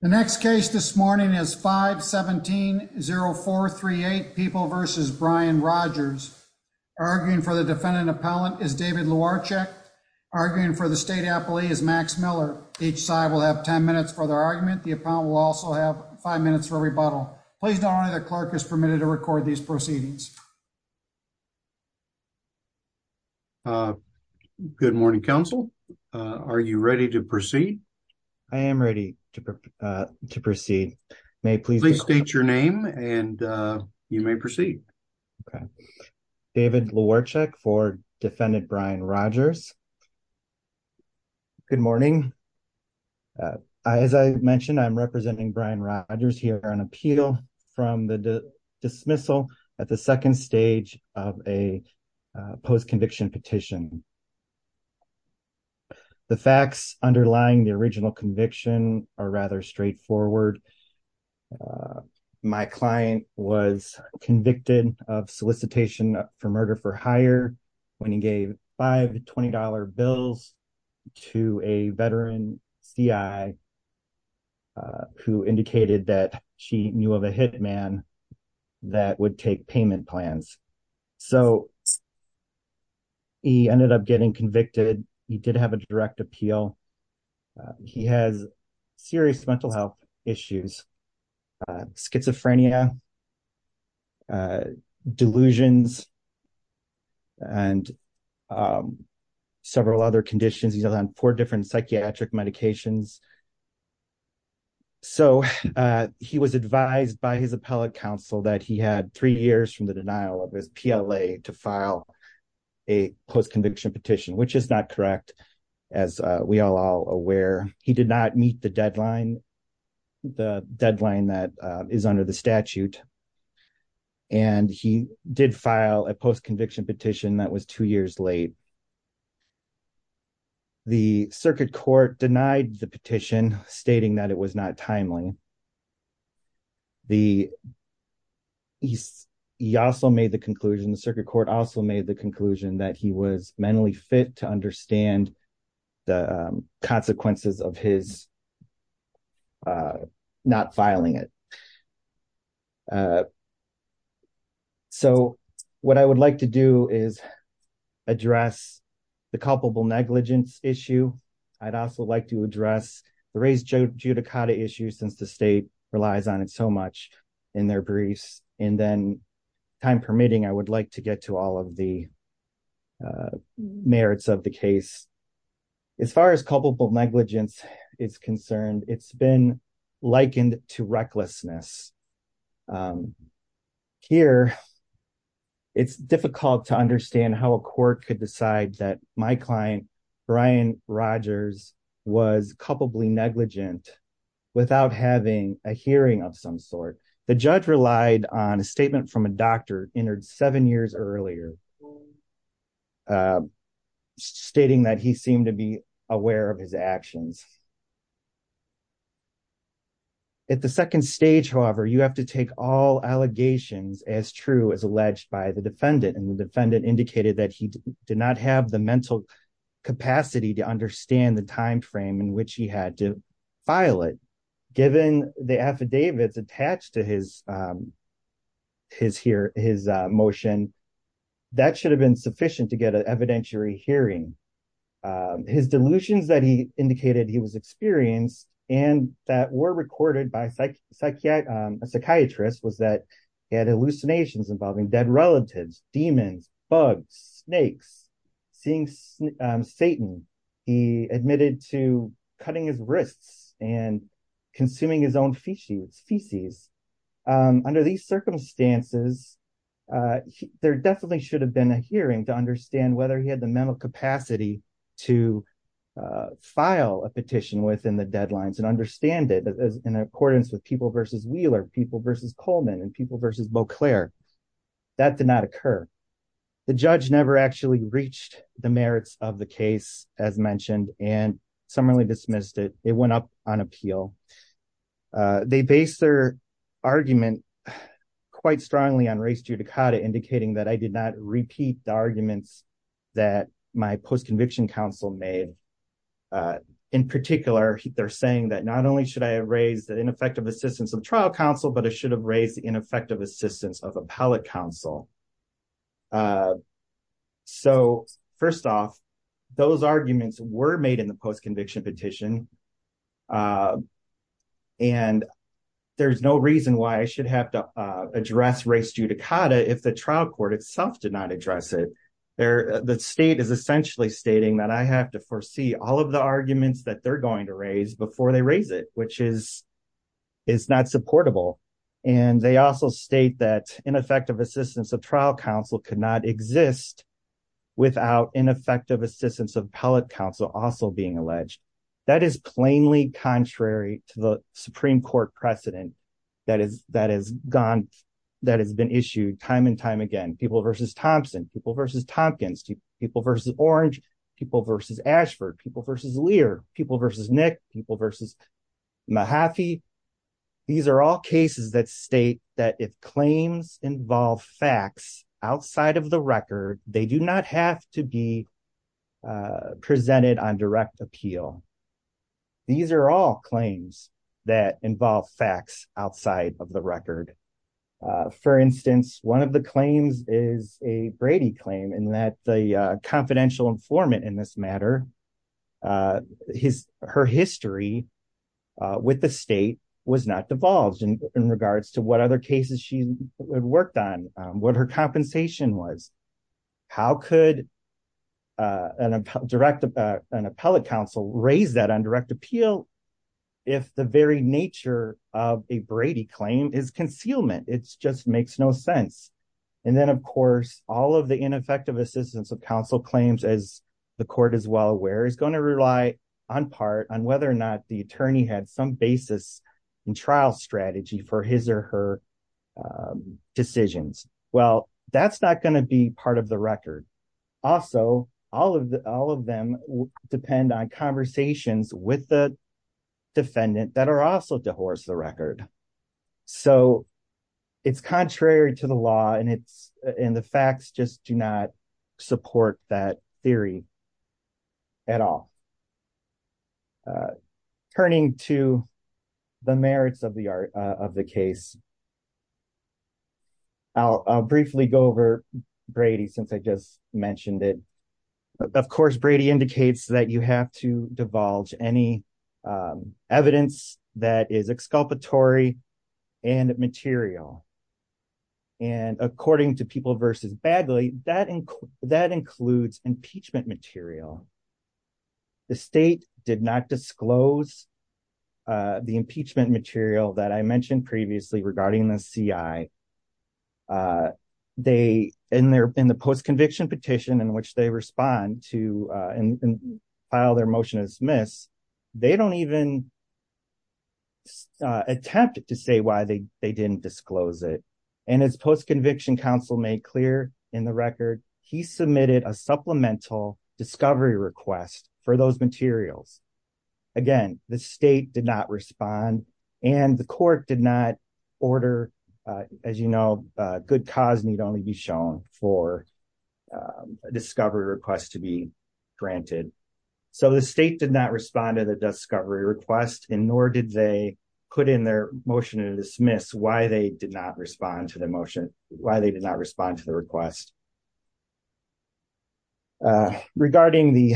The next case this morning is 5-17-0438 People v. Brian Rodgers. Arguing for the defendant appellant is David Luarchek. Arguing for the state appellee is Max Miller. Each side will have 10 minutes for their argument. The appellant will also have five minutes for rebuttal. Please note only the clerk is permitted to record these proceedings. Good morning, counsel. Are you ready to proceed? I am ready to proceed. Please state your name and you may proceed. David Luarchek for defendant Brian Rodgers. Good morning. As I mentioned, I'm representing Brian Rodgers here on appeal from the dismissal at the second stage of a post-conviction petition. The facts underlying the original conviction are rather straightforward. My client was convicted of solicitation for murder for hire when he gave $5 to $20 bills to a veteran CI who indicated that she knew of a hitman that would take payment plans. So he ended up getting convicted. He did have a direct appeal. He has serious mental health issues. Schizophrenia, delusions, and several other conditions. He's on four different psychiatric medications. So he was advised by his appellate counsel that he had three years from the denial of his PLA to file a post-conviction petition, which is not correct. As we are all aware, he did not meet the deadline, the deadline that is under the statute. And he did file a post-conviction petition that was two years late. The circuit court denied the petition stating that it was not timely. He also made the conclusion, the circuit court also made the conclusion that he was mentally fit to understand the consequences of his not filing it. So what I would like to do is address the culpable negligence issue. I'd also like to since the state relies on it so much in their briefs, and then time permitting, I would like to get to all of the merits of the case. As far as culpable negligence is concerned, it's been likened to recklessness. Here, it's difficult to understand how a court could decide that my client Brian Rogers was culpably negligent without having a hearing of some sort. The judge relied on a statement from a doctor entered seven years earlier stating that he seemed to be aware of his actions. At the second stage, however, you have to take all allegations as true as alleged by and the defendant indicated that he did not have the mental capacity to understand the time frame in which he had to file it. Given the affidavits attached to his motion, that should have been sufficient to get an evidentiary hearing. His delusions that he indicated he was experienced and that were recorded by a psychiatrist was that he had hallucinations involving dead relatives, demons, bugs, snakes, seeing Satan. He admitted to cutting his wrists and consuming his own feces. Under these circumstances, there definitely should have been a hearing to understand whether he had mental capacity to file a petition within the deadlines and understand it in accordance with People v. Wheeler, People v. Coleman, and People v. Beauclair. That did not occur. The judge never actually reached the merits of the case as mentioned and summarily dismissed it. It went up on appeal. They based their argument quite strongly on res judicata indicating that I did not repeat the arguments that my post-conviction counsel made. In particular, they're saying that not only should I have raised the ineffective assistance of trial counsel, but I should have raised the ineffective assistance of appellate counsel. First off, those arguments were made in the post-conviction petition and there's no reason why I should have to address res judicata if the state is essentially stating that I have to foresee all of the arguments that they're going to raise before they raise it, which is not supportable. They also state that ineffective assistance of trial counsel could not exist without ineffective assistance of appellate counsel also being alleged. That is plainly contrary to the Supreme Court precedent that has been issued time and time again. People v. Thompson, People v. Tompkins, People v. Orange, People v. Ashford, People v. Lear, People v. Nick, People v. Mahaffey. These are all cases that state that if claims involve facts outside of the record, they do not have to be presented on direct appeal. These are all claims that involve facts outside of the record. For instance, one of the claims is a Brady claim in that the confidential informant in this matter, her history with the state was not divulged in regards to what other cases she worked on, what her compensation was. How could an appellate counsel raise that on direct appeal if the very nature of a Brady claim is concealment? It just makes no sense. And then, of course, all of the ineffective assistance of counsel claims, as the court is well aware, is going to rely on part on whether or not the attorney had some basis in trial strategy for his or her decisions. Well, that's not going to be part of the record. Also, all of them depend on conversations with the defendant that are also to horse the record. So, it's contrary to the law and the facts just do not support that theory at all. Turning to the merits of the case, I'll briefly go over Brady since I just mentioned it. Of course, Brady indicates that you have to divulge any evidence that is exculpatory and material. And according to People v. Bagley, that includes impeachment material. The state did not disclose the impeachment material that I mentioned previously regarding the CI. In the post-conviction petition in which they respond to and file their motion to dismiss, they don't even attempt to say why they didn't disclose it. And as post-conviction counsel made clear in the record, he submitted a supplemental discovery request for those materials. Again, the state did not respond and the court did not order, as you know, good cause need only be shown for a discovery request to be granted. So, the state did not respond to the discovery request and nor did they put in their motion to dismiss why they did not respond to the motion, why they did not respond to the request. Regarding the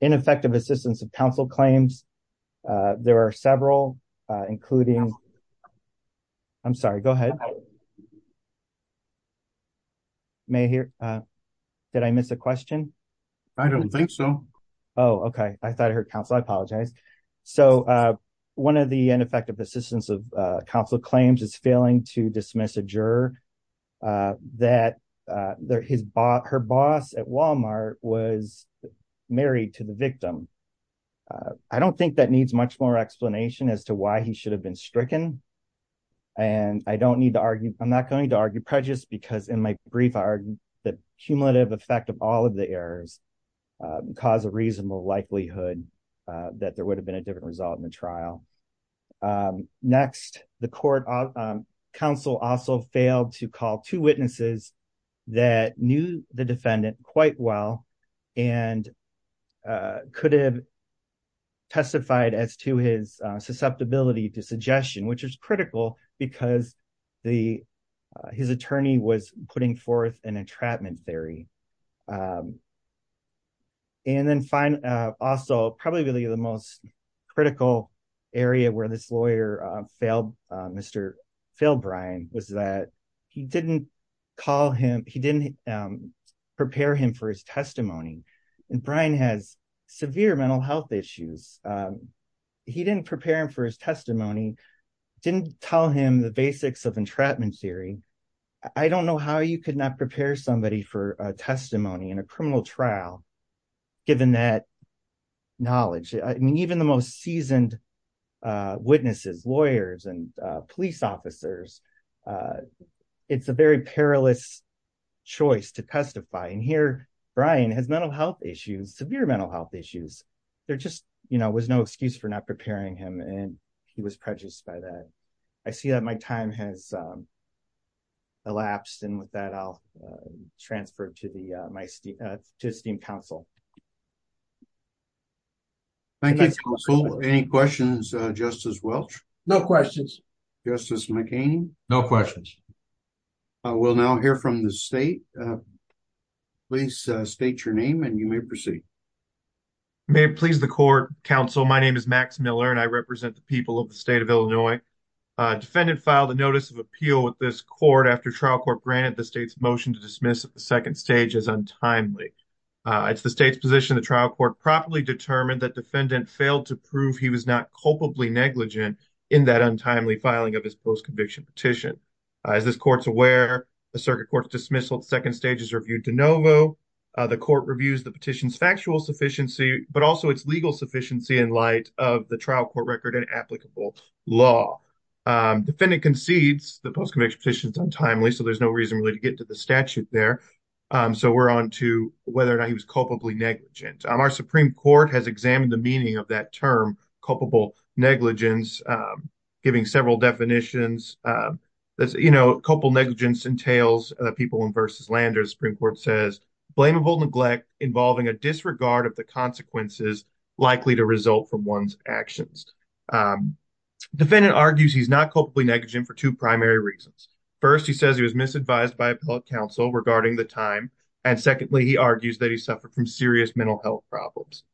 ineffective assistance of counsel claims, there are several, including... I'm sorry, go ahead. May I hear? Did I miss a question? I don't think so. Oh, okay. I thought I heard counsel. I apologize. So, one of the ineffective assistance of counsel claims is failing to dismiss a juror that her boss at Walmart was married to the victim. I don't think that needs much more explanation as to why he should have been stricken. And I don't need to argue... I'm not going to argue prejudice because in my brief, the cumulative effect of all of the errors cause a reasonable likelihood that there would have different result in the trial. Next, the court counsel also failed to call two witnesses that knew the defendant quite well and could have testified as to his susceptibility to suggestion, which is critical because his attorney was putting forth an entrapment theory. And then, also, probably really the most critical area where this lawyer failed Mr. Phil Bryan was that he didn't call him, he didn't prepare him for his testimony. And Bryan has severe mental health issues. He didn't prepare him for his testimony, didn't tell him the basics of entrapment theory. I don't know how you could not prepare somebody for a testimony in a criminal trial, given that knowledge. I mean, even the most seasoned witnesses, lawyers and police officers, it's a very perilous choice to testify. And here, Bryan has mental health issues, severe mental health issues. There just was no excuse for not preparing him and he was prejudiced by that. I see that my time has elapsed and with that, I'll transfer to esteemed counsel. Thank you, counsel. Any questions, Justice Welch? No questions. Justice McCain? No questions. I will now hear from the state. Please state your name and you may proceed. May it please the court, counsel. My name is Max Miller and I represent the people of the state of Illinois. Defendant filed a notice of appeal with this court after trial court granted the motion to dismiss at the second stage as untimely. It's the state's position the trial court properly determined that defendant failed to prove he was not culpably negligent in that untimely filing of his post-conviction petition. As this court's aware, the circuit court's dismissal at second stage is reviewed de novo. The court reviews the petition's factual sufficiency, but also its legal sufficiency in light of the trial court record and applicable law. Defendant concedes the statute there. So we're on to whether or not he was culpably negligent. Our Supreme Court has examined the meaning of that term, culpable negligence, giving several definitions. Culpable negligence entails people in versus landers. Supreme Court says, blamable neglect involving a disregard of the consequences likely to result from one's actions. Defendant argues he's not culpably negligent for two primary reasons. First, he says he was misadvised by appellate counsel regarding the time. And secondly, he argues that he suffered from serious mental health problems.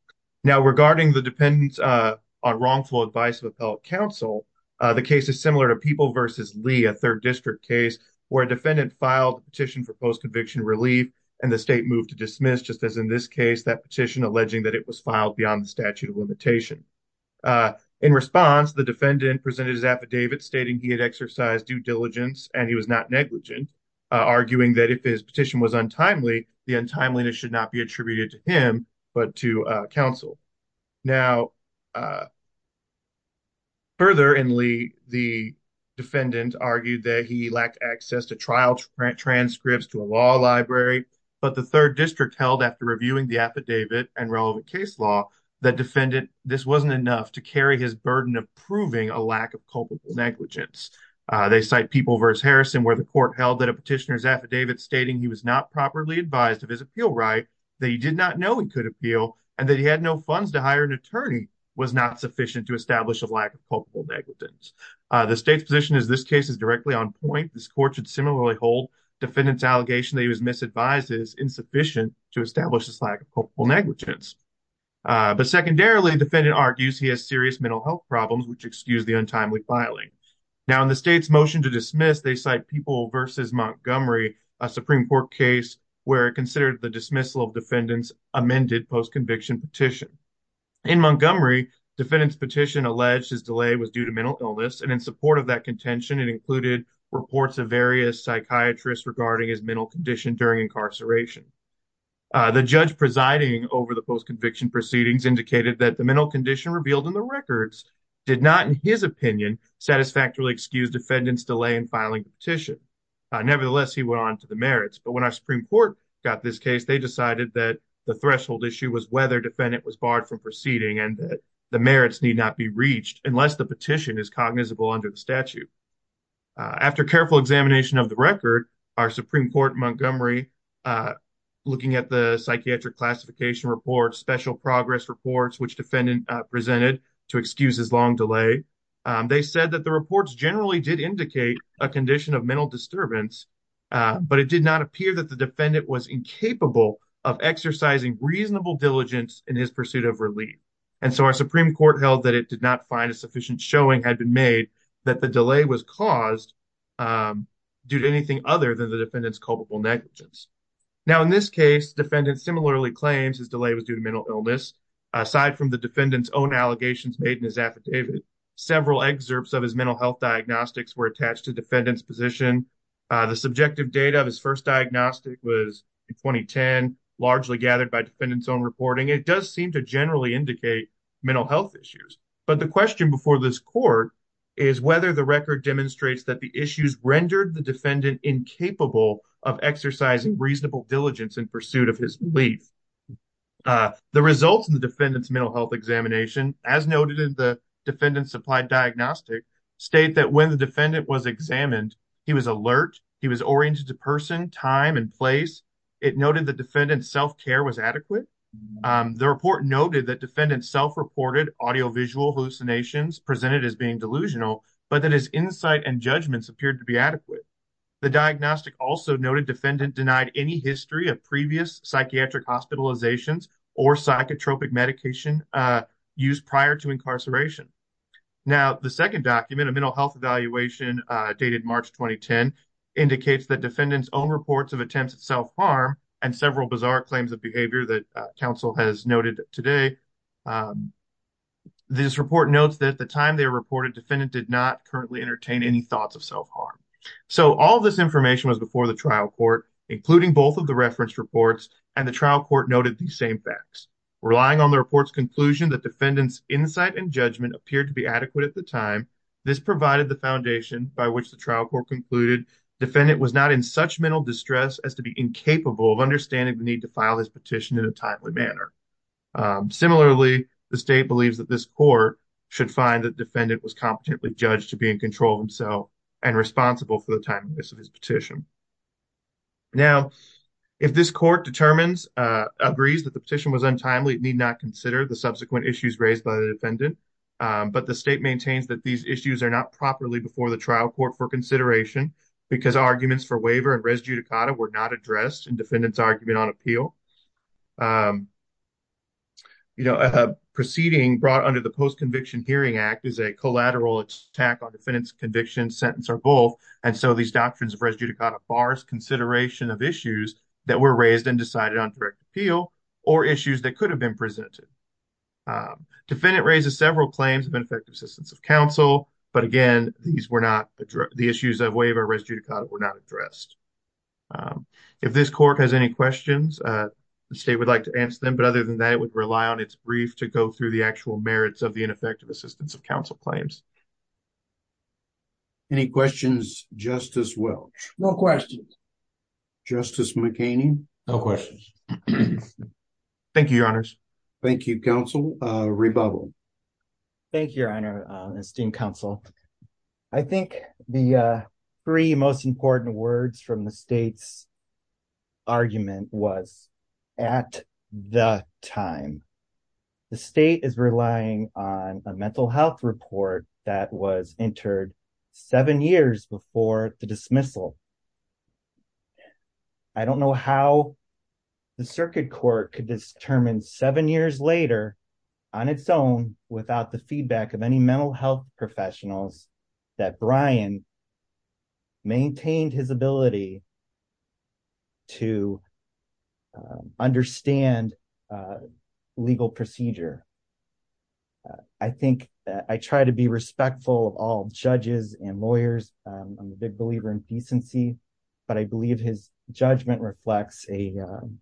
Now regarding the dependence on wrongful advice of appellate counsel, the case is similar to People versus Lee, a third district case where a defendant filed petition for post-conviction relief and the state moved to dismiss, just as in this case, that petition alleging that it was filed beyond the statute of limitation. In response, the defendant presented his affidavit stating he had exercised due diligence and he was not negligent, arguing that if his petition was untimely, the untimeliness should not be attributed to him but to counsel. Now, further in Lee, the defendant argued that he lacked access to trial transcripts to a law library, but the third district held after reviewing the affidavit and relevant case law that defendant this wasn't enough to carry his burden of proving a lack of culpable negligence. They cite People versus Harrison, where the court held that a petitioner's affidavit stating he was not properly advised of his appeal right, that he did not know he could appeal, and that he had no funds to hire an attorney was not sufficient to establish a lack of culpable negligence. The state's position is this case is directly on point. This court should similarly hold defendant's allegation that he was misadvised is insufficient to establish this lack of culpable negligence. But secondarily, defendant argues he has serious mental health problems, which excuse the untimely filing. Now, in the state's motion to dismiss, they cite People versus Montgomery, a Supreme Court case where it considered the dismissal of defendant's amended post-conviction petition. In Montgomery, defendant's petition alleged his delay was due to mental illness and in support of that contention, it included reports of various psychiatrists regarding his mental condition during incarceration. The judge presiding over the post-conviction proceedings indicated that the mental condition revealed in the records did not, in his opinion, satisfactorily excuse defendant's delay in filing the petition. Nevertheless, he went on to the merits. But when our Supreme Court got this case, they decided that the threshold issue was whether defendant was barred from proceeding and that the merits need not be reached unless the petition is cognizable under the statute. After careful examination of the record, our Supreme Court in which defendant presented to excuse his long delay, they said that the reports generally did indicate a condition of mental disturbance, but it did not appear that the defendant was incapable of exercising reasonable diligence in his pursuit of relief. And so our Supreme Court held that it did not find a sufficient showing had been made that the delay was caused due to anything other than the defendant's culpable negligence. Now, in this case, defendant similarly claims his delay was due to mental illness. Aside from the defendant's own allegations made in his affidavit, several excerpts of his mental health diagnostics were attached to defendant's position. The subjective data of his first diagnostic was in 2010, largely gathered by defendant's own reporting. It does seem to generally indicate mental health issues. But the question before this court is whether the record demonstrates that the issues rendered the defendant incapable of exercising reasonable diligence in pursuit of his relief. The results in the defendant's mental health examination, as noted in the defendant's supplied diagnostic, state that when the defendant was examined, he was alert, he was oriented to person, time, and place. It noted the defendant's self-care was adequate. The report noted that defendant self-reported audio-visual hallucinations presented as being delusional, but that his insight and judgments appeared to be adequate. The diagnostic also noted defendant denied any history of previous psychiatric hospitalizations or psychotropic medication used prior to incarceration. Now, the second document, a mental health evaluation dated March 2010, indicates that defendant's own reports of attempts at self-harm and several bizarre claims of behavior that counsel has noted today. This report notes that at the time they reported, defendant did not currently entertain any thoughts of self-harm. So, all this information was before the trial court, including both of the reference reports, and the trial court noted these same facts. Relying on the report's conclusion that defendant's insight and judgment appeared to be adequate at the time, this provided the foundation by which the trial court concluded defendant was not in such mental distress as to be incapable of understanding the need to file this petition in a timely manner. Similarly, the state believes that this court should find that defendant was incompetently judged to be in control of himself and responsible for the timeliness of his petition. Now, if this court agrees that the petition was untimely, it need not consider the subsequent issues raised by the defendant, but the state maintains that these issues are not properly before the trial court for consideration because arguments for waiver and res judicata were not addressed in defendant's argument on appeal. A proceeding brought under the Post-Conviction Hearing Act is a collateral attack on defendant's conviction, sentence, or both, and so these doctrines of res judicata bars consideration of issues that were raised and decided on direct appeal, or issues that could have been presented. Defendant raises several claims of ineffective assistance of counsel, but again, these were not addressed, the issues of waiver res judicata were not addressed. If this court has any questions, the state would like to answer them, but other than that, it would rely on its brief to go through the actual merits of the ineffective assistance of counsel claims. Any questions, Justice Welch? No questions. Justice McCain? No questions. Thank you, your honors. Thank you, counsel. Rebubble. Thank you, your honor, esteemed counsel. I think the three most important words from the state's at the time. The state is relying on a mental health report that was entered seven years before the dismissal. I don't know how the circuit court could determine seven years later on its own without the feedback of any mental health professionals that Brian maintained his ability to understand legal procedure. I think I try to be respectful of all judges and lawyers. I'm a big believer in decency, but I believe his judgment reflects an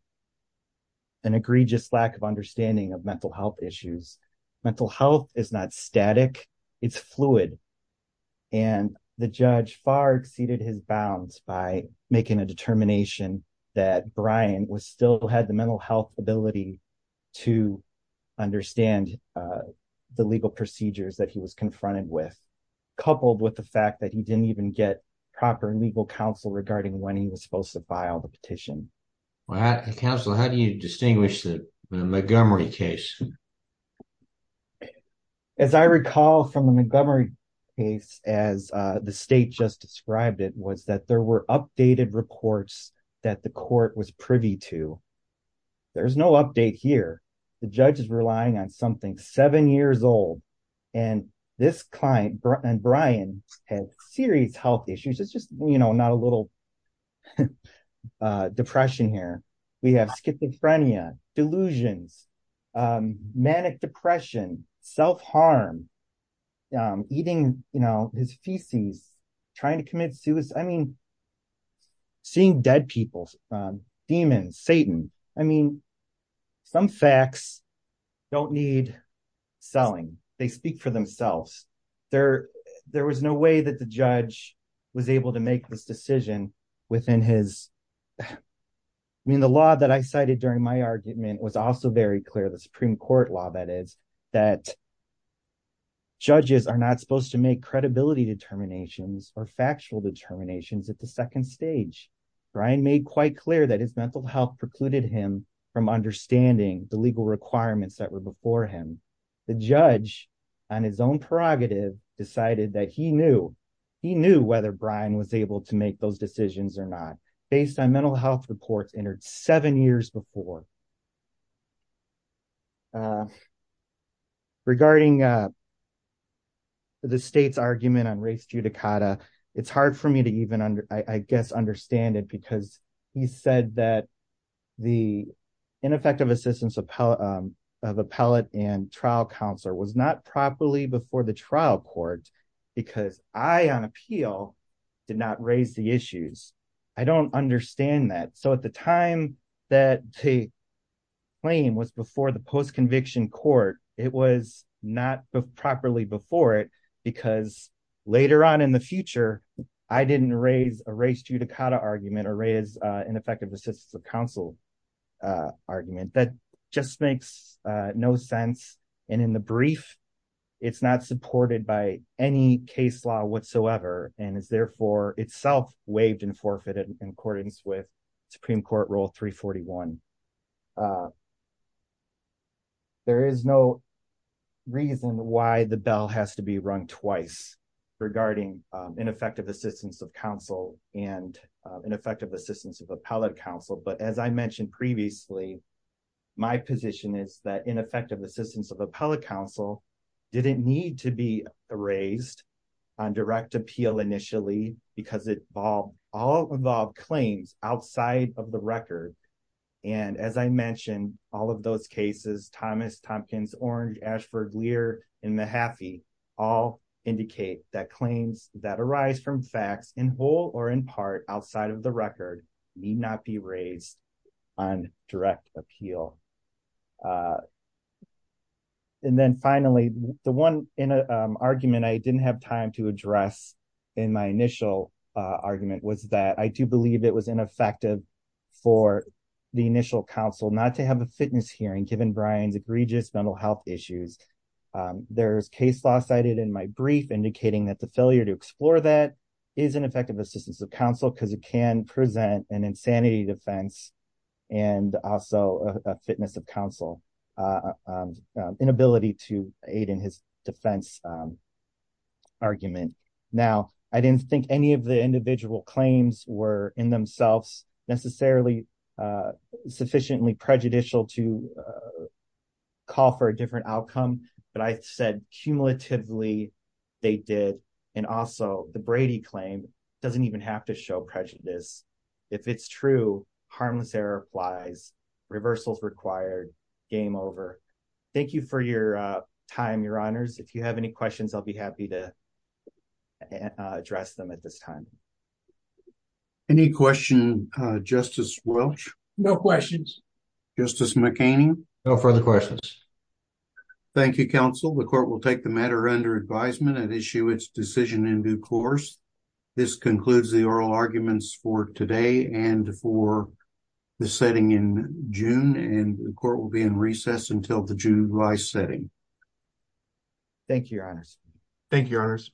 egregious lack of understanding of mental health issues. Mental health is not static, it's fluid. And the judge far exceeded his bounds by making a determination that Brian still had the mental health ability to understand the legal procedures that he was confronted with, coupled with the fact that he didn't even get proper legal counsel regarding when he was supposed to file the petition. Counsel, how do you distinguish the Montgomery case? As I recall from the Montgomery case, as the state just described it, was that there were updated reports that the court was privy to. There's no update here. The judge is relying on something seven years old. And this client, Brian, had serious health issues. It's just, you know, not a little depression here. We have schizophrenia, delusions, manic depression, self-harm, eating his feces, trying to commit suicide. I mean, seeing dead people, demons, Satan. I mean, some facts don't need selling. They speak for themselves. There was no way that the judge was able to make this decision within his... Supreme Court law, that is, that judges are not supposed to make credibility determinations or factual determinations at the second stage. Brian made quite clear that his mental health precluded him from understanding the legal requirements that were before him. The judge, on his own prerogative, decided that he knew. He knew whether Brian was able to make those decisions or not, based on mental health reports entered seven years before. Regarding the state's argument on race judicata, it's hard for me to even, I guess, understand it because he said that the ineffective assistance of appellate and trial counselor was not properly before the trial court because I, on appeal, did not raise the issues. I don't understand that. So at the time that the claim was before the post-conviction court, it was not properly before it because later on in the future, I didn't raise a race judicata argument or raise ineffective assistance of counsel argument. That just makes no sense. And in the brief, it's not supported by any case law whatsoever and is therefore itself waived and forfeited in accordance with Supreme Court Rule 341. There is no reason why the bell has to be rung twice regarding ineffective assistance of counsel and ineffective assistance of appellate counsel. But as I mentioned previously, my position is that ineffective assistance of appellate counsel didn't need to be raised on direct appeal initially because it all involved claims outside of the record. And as I mentioned, all of those cases, Thomas, Tompkins, Orange, Ashford, Lear, and Mahaffey all indicate that claims that arise from facts in whole or in part outside of the record need not be raised on direct appeal. And then finally, the one argument I didn't have time to address in my initial argument was that I do believe it was ineffective for the there's case law cited in my brief indicating that the failure to explore that is an effective assistance of counsel because it can present an insanity defense and also a fitness of counsel inability to aid in his defense argument. Now, I didn't think any of the individual claims were in to call for a different outcome, but I said cumulatively they did. And also the Brady claim doesn't even have to show prejudice. If it's true, harmless error flies, reversals required, game over. Thank you for your time, your honors. If you have any questions, I'll be happy to address them at this time. Any question, Justice Welch? No questions. Justice McCain? No further questions. Thank you, counsel. The court will take the matter under advisement and issue its decision in due course. This concludes the oral arguments for today and for the setting in June and the court will be in recess until the July setting. Thank you, your honors. Thank you, your honors.